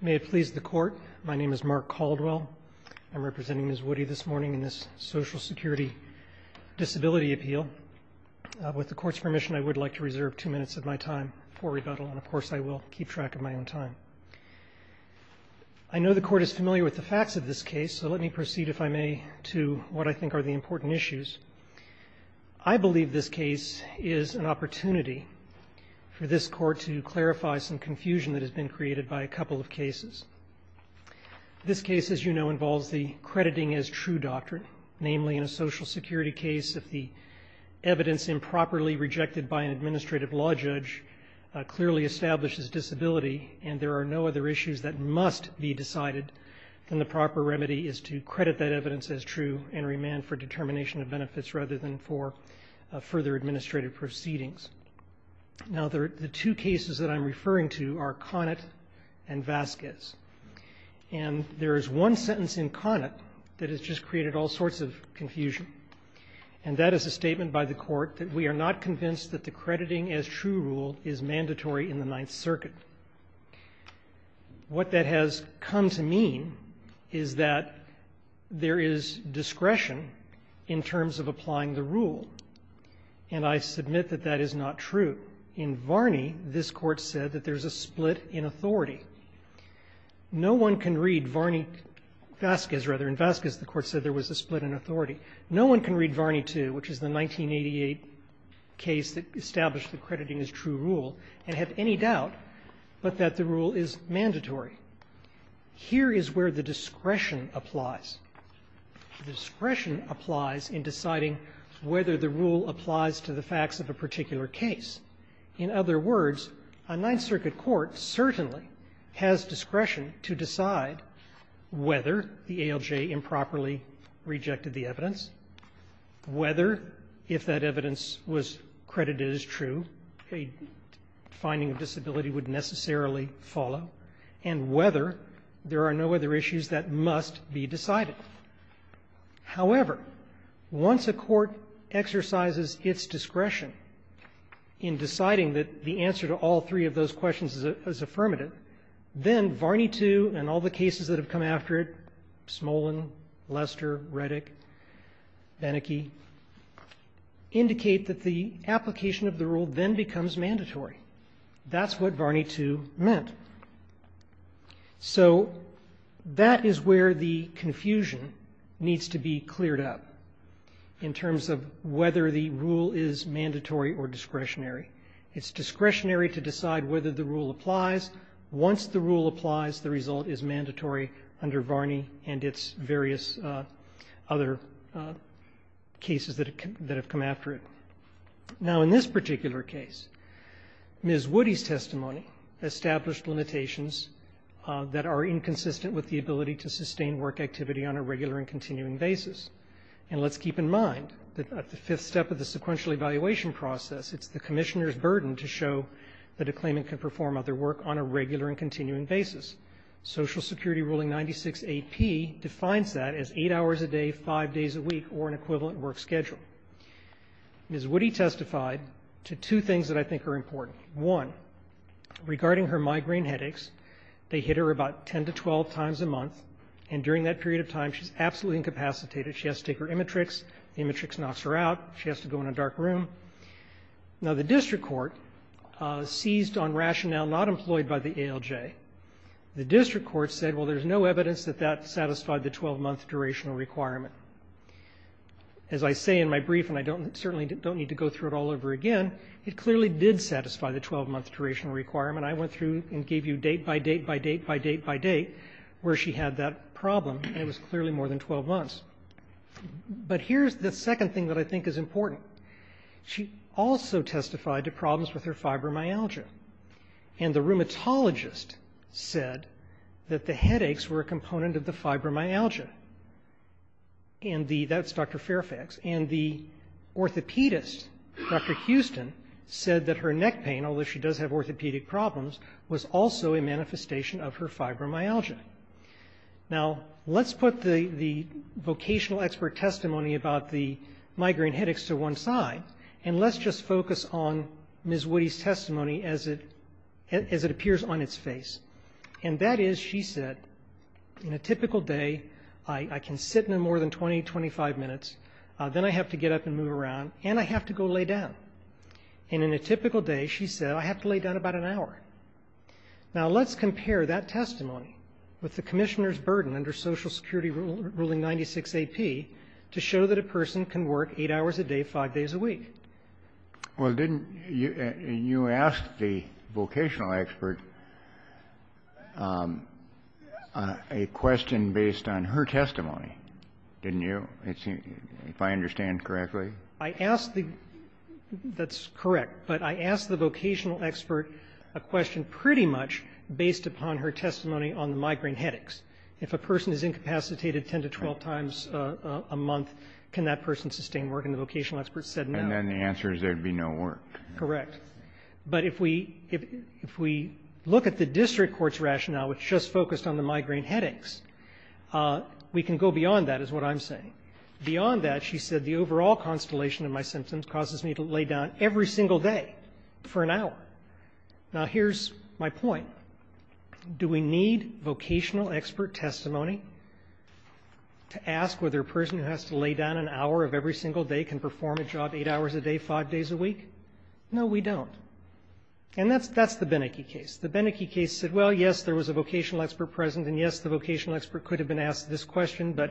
May it please the Court, my name is Mark Caldwell. I'm representing Ms. Woody this morning in this Social Security Disability Appeal. With the Court's permission, I would like to reserve two minutes of my time for rebuttal, and of course I will keep track of my own time. I know the Court is familiar with the facts of this case, so let me proceed, if I may, to what I think are the important issues. I believe this case is an opportunity for this Court to clarify some confusion that has been created by a couple of cases. This case, as you know, involves the crediting as true doctrine, namely in a Social Security case, if the evidence improperly rejected by an administrative law judge clearly establishes disability, and there are no other issues that must be decided, then the proper remedy is to credit that evidence as true and remand for determination of benefits rather than for further administrative proceedings. Now, the two cases that I'm referring to are Conant and Vasquez. And there is one sentence in Conant that has just created all sorts of confusion, and that is a statement by the Court that we are not convinced that the crediting as true rule is mandatory in the Ninth Circuit. What that has come to mean is that there is discretion in terms of applying the rule, and I submit that that is not true. In Varney, this Court said that there's a split in authority. No one can read Varney-Vasquez, rather. In Vasquez, the Court said there was a split in authority. No one can read Varney II, which is the 1988 case that established the crediting as true rule, and have any doubt but that the rule is mandatory. Here is where the discretion applies. The discretion applies in deciding whether the rule applies to the facts of a particular case. In other words, a Ninth Circuit court certainly has discretion to decide whether the ALJ improperly rejected the evidence, whether, if that evidence was credited as true, a finding of disability would necessarily follow, and whether there are no other issues that must be decided. However, once a court exercises its discretion in deciding that the answer to all three of those questions is affirmative, then Varney II and all the cases that have come after it, Smolin, Lester, Reddick, Beneke, indicate that the application of the rule then becomes mandatory. That's what Varney II meant. So that is where the confusion needs to be cleared up in terms of whether the rule is mandatory or discretionary. It's discretionary to decide whether the rule applies. Once the rule applies, the result is mandatory under Varney and its various other cases that have come after it. Now, in this particular case, Ms. Woody's testimony established limitations that are inconsistent with the ability to sustain work activity on a regular and continuing basis. And let's keep in mind that at the fifth step of the sequential evaluation process, it's the Commissioner's burden to show that a claimant can perform other work on a regular and continuing basis. Social Security Ruling 96AP defines that as 8 hours a day, 5 days a week, or an equivalent work schedule. Ms. Woody testified to two things that I think are important. One, regarding her migraine headaches, they hit her about 10 to 12 times a month, and during that period of time, she's absolutely incapacitated. She has to take her Imatrix. The Imatrix knocks her out. She has to go in a dark room. Now, the district court seized on rationale not employed by the ALJ. The district court said, well, there's no evidence that that satisfied the 12-month durational requirement. As I say in my brief, and I certainly don't need to go through it all over again, it clearly did satisfy the 12-month durational requirement. I went through and gave you date by date by date by date by date where she had that 12 months. But here's the second thing that I think is important. She also testified to problems with her fibromyalgia, and the rheumatologist said that the headaches were a component of the fibromyalgia. And that's Dr. Fairfax. And the orthopedist, Dr. Houston, said that her neck pain, although she does have orthopedic problems, was also a manifestation of her fibromyalgia. Now, let's put the vocational expert testimony about the migraine headaches to one side, and let's just focus on Ms. Woody's testimony as it appears on its face. And that is, she said, in a typical day, I can sit in more than 20, 25 minutes. Then I have to get up and move around, and I have to go lay down. And in a typical day, she said, I have to lay down about an hour. Now, let's compare that testimony with the Commissioner's burden under Social Security Ruling 96AP to show that a person can work eight hours a day, five days a week. Well, didn't you ask the vocational expert a question based on her testimony, didn't you, if I understand correctly? That's correct. But I asked the vocational expert a question pretty much based upon her testimony on the migraine headaches. If a person is incapacitated 10 to 12 times a month, can that person sustain work? And the vocational expert said no. And then the answer is there would be no work. Correct. But if we look at the district court's rationale, which just focused on the migraine headaches, we can go beyond that, is what I'm saying. Beyond that, she said the overall constellation of my symptoms causes me to lay down every single day for an hour. Now, here's my point. Do we need vocational expert testimony to ask whether a person who has to lay down an hour of every single day can perform a job eight hours a day, five days a week? No, we don't. And that's the Beneke case. The Beneke case said, well, yes, there was a vocational expert present, and yes, the vocational expert could have been asked this question. But,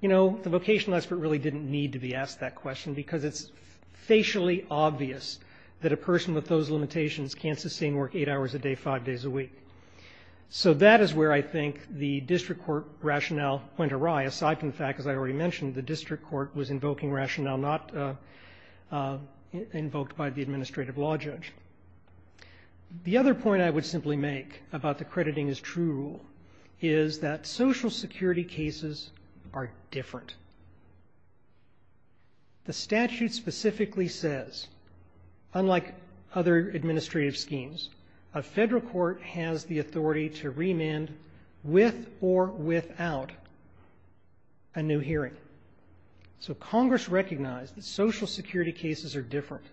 you know, the vocational expert really didn't need to be asked that question because it's facially obvious that a person with those limitations can't sustain work eight hours a day, five days a week. So that is where I think the district court rationale went awry, aside from the fact, as I already mentioned, the district court was invoking rationale not invoked by the administrative law judge. The other point I would simply make about the crediting is true rule is that social security cases are different. The statute specifically says, unlike other administrative schemes, a federal court has the authority to remand with or without a new hearing. So Congress recognized that social security cases are different,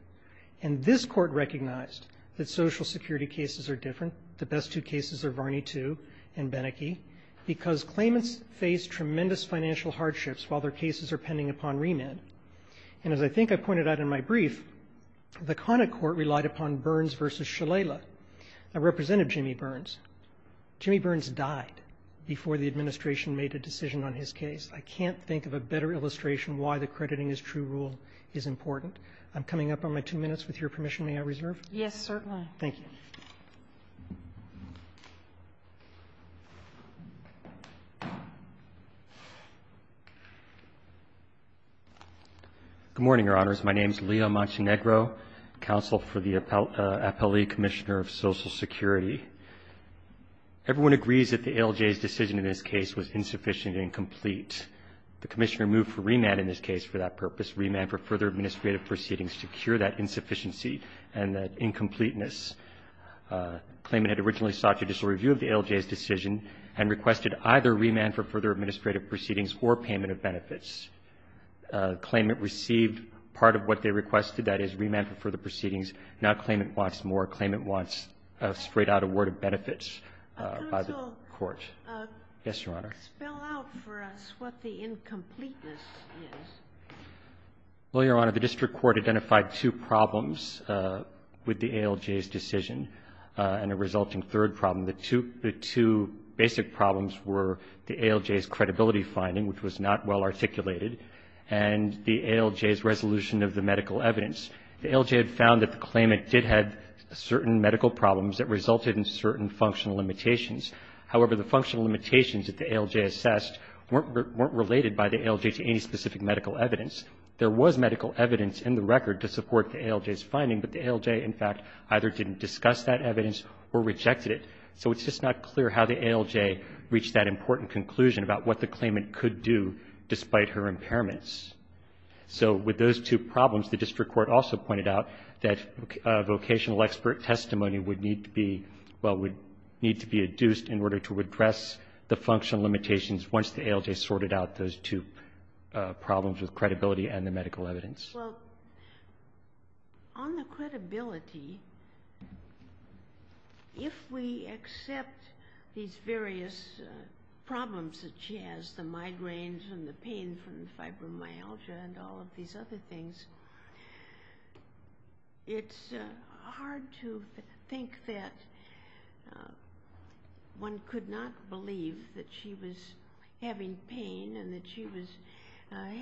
and this court recognized that social security cases are different. The best two cases are Varney 2 and Beneke because claimants face tremendous financial hardships while their cases are pending upon remand. And as I think I pointed out in my brief, the conic court relied upon Burns v. Shalala. I represented Jimmy Burns. Jimmy Burns died before the administration made a decision on his case. I can't think of a better illustration why the crediting is true rule is important. I'm coming up on my two minutes. With your permission, may I reserve? Yes, certainly. Thank you. Good morning, Your Honors. My name is Leo Montenegro, counsel for the Appellee Commissioner of Social Security. Everyone agrees that the ALJ's decision in this case was insufficient and incomplete. The Commissioner moved for remand in this case for that purpose, remand for further administrative proceedings to cure that insufficiency and that incompleteness. Claimant had originally sought judicial review of the ALJ's decision and requested either remand for further administrative proceedings or payment of benefits. Claimant received part of what they requested, that is, remand for further proceedings. Now, claimant wants more. Claimant wants a straight-out award of benefits by the court. Counsel. Yes, Your Honor. Spell out for us what the incompleteness is. Well, Your Honor, the district court identified two problems with the ALJ's decision and a resulting third problem. The two basic problems were the ALJ's credibility finding, which was not well articulated, and the ALJ's resolution of the medical evidence. The ALJ had found that the claimant did have certain medical problems that resulted in certain functional limitations. However, the functional limitations that the ALJ assessed weren't related by the ALJ to any specific medical evidence. There was medical evidence in the record to support the ALJ's finding, but the ALJ, in fact, either didn't discuss that evidence or rejected it. So it's just not clear how the ALJ reached that important conclusion about what the claimant could do despite her impairments. So with those two problems, the district court also pointed out that vocational expert testimony would need to be, well, would need to be adduced in order to address the functional limitations once the ALJ sorted out those two problems with credibility and the medical evidence. Well, on the credibility, if we accept these various problems such as the migraines and the pain from fibromyalgia and all of these other things, it's hard to think that one could not believe that she was having pain and that she was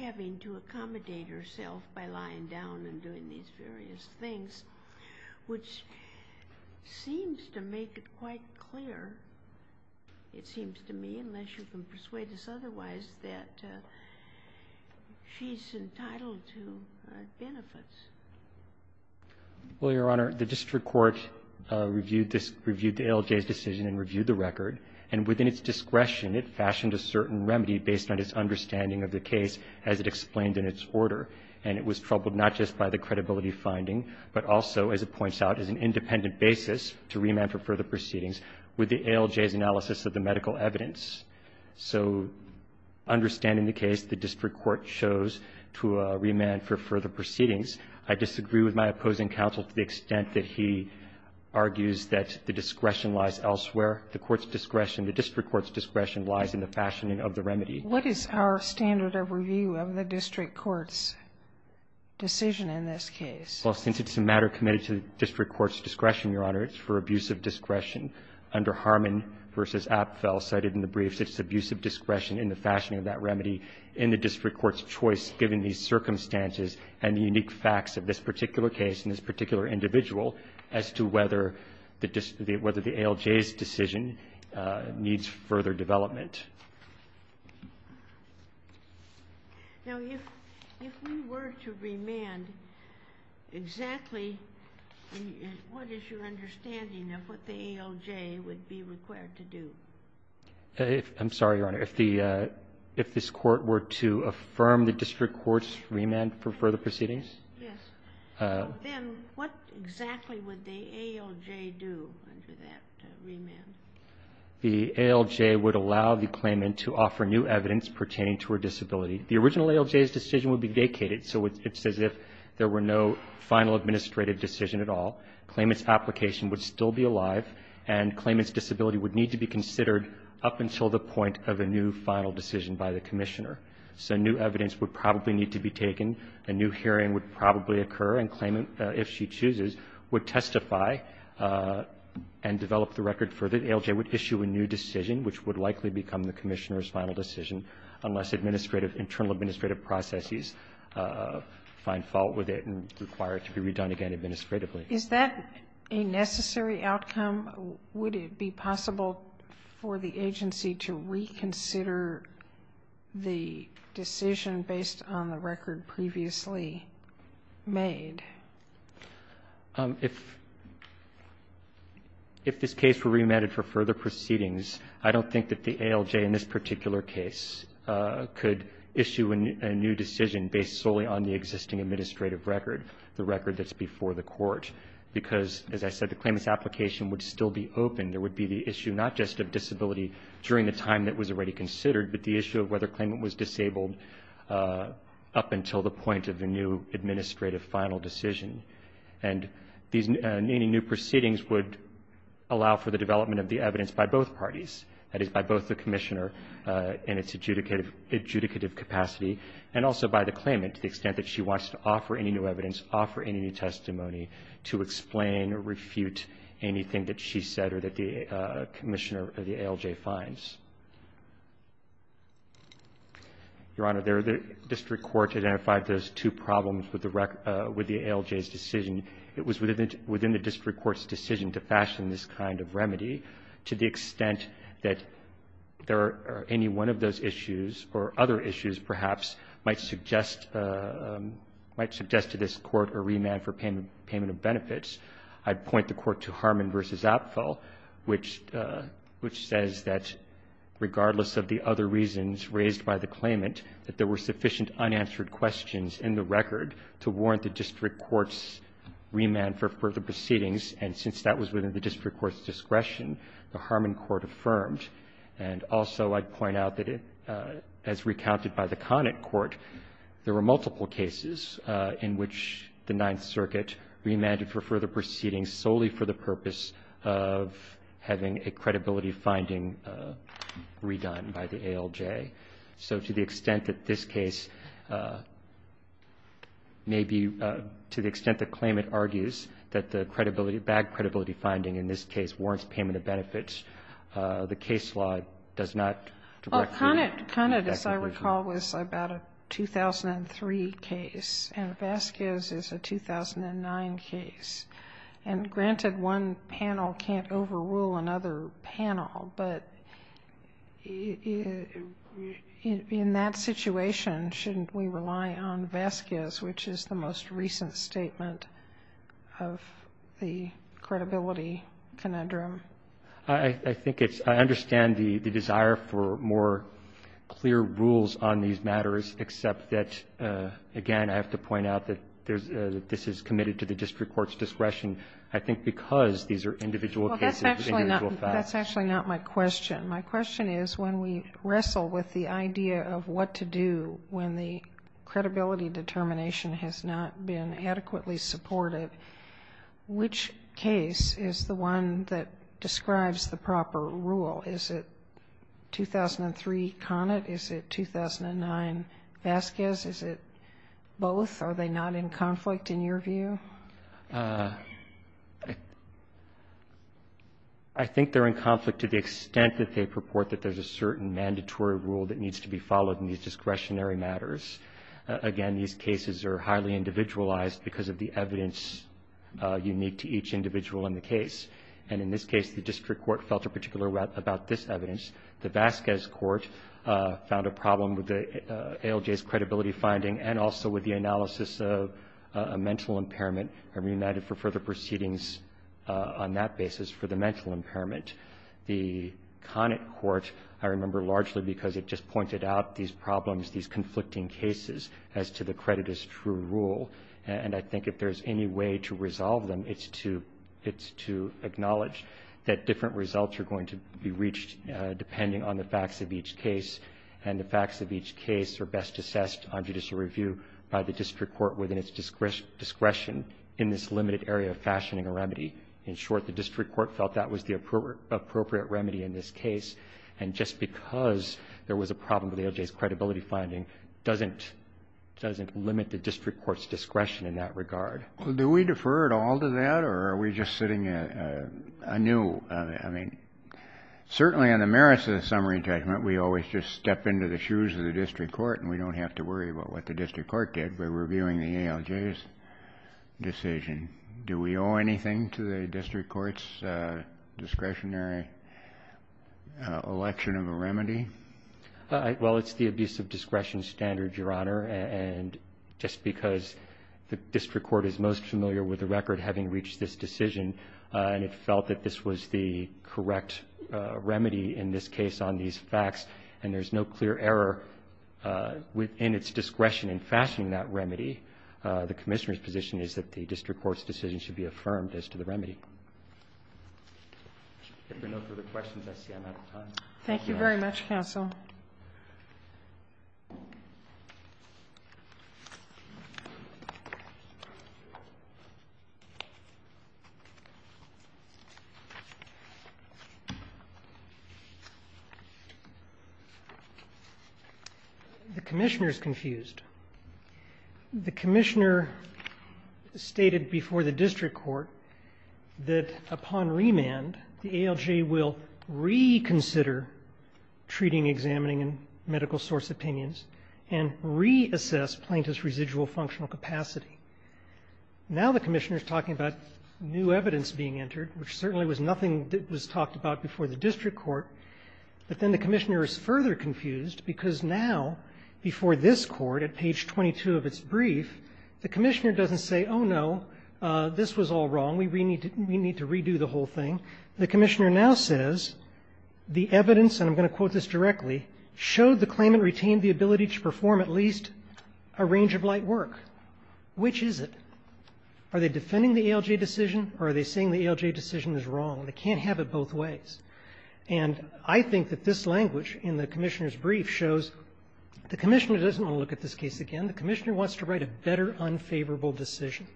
having to accommodate herself by lying down and doing these various things, which seems to make it quite clear, it seems to me, unless you can persuade us otherwise, that she's entitled to benefits. Well, Your Honor, the district court reviewed the ALJ's decision and reviewed the record, and within its discretion, it fashioned a certain remedy based on its understanding of the case as it explained in its order. And it was troubled not just by the credibility finding, but also, as it points out, as an independent basis to remand for further proceedings with the ALJ's analysis of the medical evidence. So understanding the case, the district court chose to remand for further proceedings. I disagree with my opposing counsel to the extent that he argues that the discretion lies elsewhere. The court's discretion, the district court's discretion lies in the fashioning of the remedy. What is our standard of review of the district court's decision in this case? Well, since it's a matter committed to the district court's discretion, Your Honor, it's for abuse of discretion. Under Harmon v. Apfel cited in the briefs, it's abuse of discretion in the fashioning of that remedy in the district court's choice, given these circumstances and the unique facts of this particular case and this particular individual as to whether the ALJ's decision needs further development. Now, if we were to remand, exactly what is your understanding of what the ALJ would be required to do? I'm sorry, Your Honor. If this court were to affirm the district court's remand for further proceedings? Yes. Then what exactly would the ALJ do under that remand? The ALJ would allow the claimant to offer new evidence pertaining to her disability. The original ALJ's decision would be vacated, so it's as if there were no final administrative decision at all. Claimant's application would still be alive, and claimant's disability would need to be considered up until the point of a new final decision by the commissioner. So new evidence would probably need to be taken. A new hearing would probably occur, and claimant, if she chooses, would testify and develop the record further. The ALJ would issue a new decision, which would likely become the commissioner's final decision, unless administrative, internal administrative processes find fault with it and require it to be redone again administratively. Is that a necessary outcome? Would it be possible for the agency to reconsider the decision based on the record previously made? If this case were remanded for further proceedings, I don't think that the ALJ in this particular case could issue a new decision based solely on the existing administrative record, the record that's before the court, because, as I said, the claimant's record would still be open. There would be the issue not just of disability during the time that was already considered, but the issue of whether claimant was disabled up until the point of a new administrative final decision. And any new proceedings would allow for the development of the evidence by both parties, that is, by both the commissioner in its adjudicative capacity, and also by the claimant to the extent that she wants to offer any new evidence, offer any testimony to explain or refute anything that she said or that the commissioner of the ALJ finds. Your Honor, the district court identified those two problems with the ALJ's decision. It was within the district court's decision to fashion this kind of remedy to the extent that there are any one of those issues or other issues perhaps might suggest to this Court a remand for payment of benefits. I'd point the Court to Harmon v. Apfel, which says that regardless of the other reasons raised by the claimant, that there were sufficient unanswered questions in the record to warrant the district court's remand for further proceedings, and since that was within the district court's discretion, the Harmon court affirmed. And also I'd point out that as recounted by the Conant court, there were multiple cases in which the Ninth Circuit remanded for further proceedings solely for the purpose of having a credibility finding redone by the ALJ. So to the extent that this case may be to the extent the claimant argues that the case law does not directly. Well, Conant, as I recall, was about a 2003 case, and Vasquez is a 2009 case. And granted, one panel can't overrule another panel, but in that situation, shouldn't we rely on Vasquez, which is the most recent statement of the credibility conundrum? I think it's – I understand the desire for more clear rules on these matters, except that, again, I have to point out that this is committed to the district court's discretion, I think because these are individual cases. Well, that's actually not my question. My question is, when we wrestle with the idea of what to do when the credibility determination has not been adequately supported, which case is the one that describes the proper rule? Is it 2003 Conant? Is it 2009 Vasquez? Is it both? Are they not in conflict in your view? I think they're in conflict to the extent that they purport that there's a certain mandatory rule that needs to be followed in these discretionary matters. Again, these cases are highly individualized because of the evidence unique to each individual in the case. And in this case, the district court felt a particular way about this evidence. The Vasquez court found a problem with the ALJ's credibility finding and also with the analysis of a mental impairment and reunited for further proceedings on that mental impairment. The Conant court, I remember largely because it just pointed out these problems, these conflicting cases as to the credit as true rule. And I think if there's any way to resolve them, it's to acknowledge that different results are going to be reached depending on the facts of each case, and the facts of each case are best assessed on judicial review by the district court within its discretion in this limited area of fashioning a remedy. In short, the district court felt that was the appropriate remedy in this case. And just because there was a problem with the ALJ's credibility finding doesn't limit the district court's discretion in that regard. Do we defer at all to that, or are we just sitting anew? I mean, certainly on the merits of the summary indictment, we always just step into the shoes of the district court, and we don't have to worry about what the district court did by reviewing the ALJ's decision. Do we owe anything to the district court's discretionary election of a remedy? Well, it's the abuse of discretion standard, Your Honor. And just because the district court is most familiar with the record having reached this decision, and it felt that this was the correct remedy in this case based on these facts, and there's no clear error within its discretion in fashioning that remedy, the Commissioner's position is that the district court's decision should be affirmed as to the remedy. If there are no further questions, I see I'm out of time. Thank you very much, counsel. The Commissioner is confused. The Commissioner stated before the district court that upon remand, the ALJ will reconsider treating, examining, and medical source opinions, and reassess plaintiff's residual functional capacity. Now the Commissioner is talking about new evidence being entered, which certainly was nothing that was talked about before the district court. But then the Commissioner is further confused, because now, before this Court, at page 22 of its brief, the Commissioner doesn't say, oh, no, this was all wrong, we need to redo the whole thing. The Commissioner now says the evidence, and I'm going to quote this directly, showed the claimant retained the ability to perform at least a range of light work. Which is it? Are they defending the ALJ decision, or are they saying the ALJ decision is wrong, and they can't have it both ways? And I think that this language in the Commissioner's brief shows the Commissioner doesn't want to look at this case again. The Commissioner wants to write a better, unfavorable decision,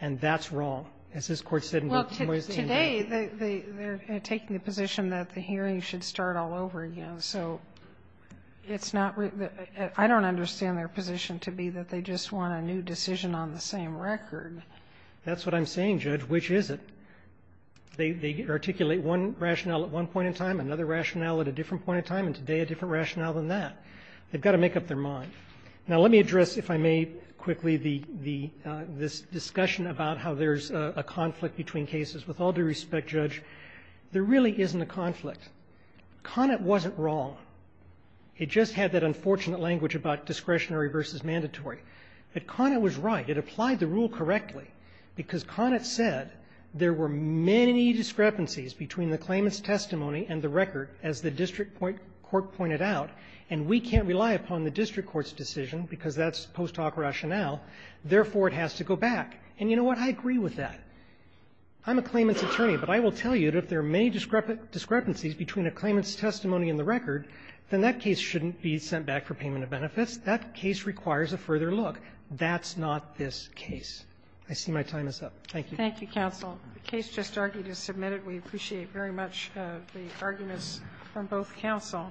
and that's wrong, as this Court said in both ways in there. Well, today, they're taking the position that the hearing should start all over again. So it's not really the --- I don't understand their position to be that they just want a new decision on the same record. That's what I'm saying, Judge. Which is it? They articulate one rationale at one point in time, another rationale at a different point in time, and today a different I'd like to address, if I may, quickly, the -- this discussion about how there's a conflict between cases. With all due respect, Judge, there really isn't a conflict. Conant wasn't wrong. It just had that unfortunate language about discretionary versus mandatory. But Conant was right. It applied the rule correctly, because Conant said there were many discrepancies between the claimant's testimony and the record, as the district court pointed out. And we can't rely upon the district court's decision, because that's post hoc rationale. Therefore, it has to go back. And you know what? I agree with that. I'm a claimant's attorney. But I will tell you that if there are many discrepancies between a claimant's testimony and the record, then that case shouldn't be sent back for payment of benefits. That case requires a further look. That's not this case. I see my time is up. Thank you. Thank you, counsel. The case just argued is submitted. We appreciate very much the arguments from both counsel.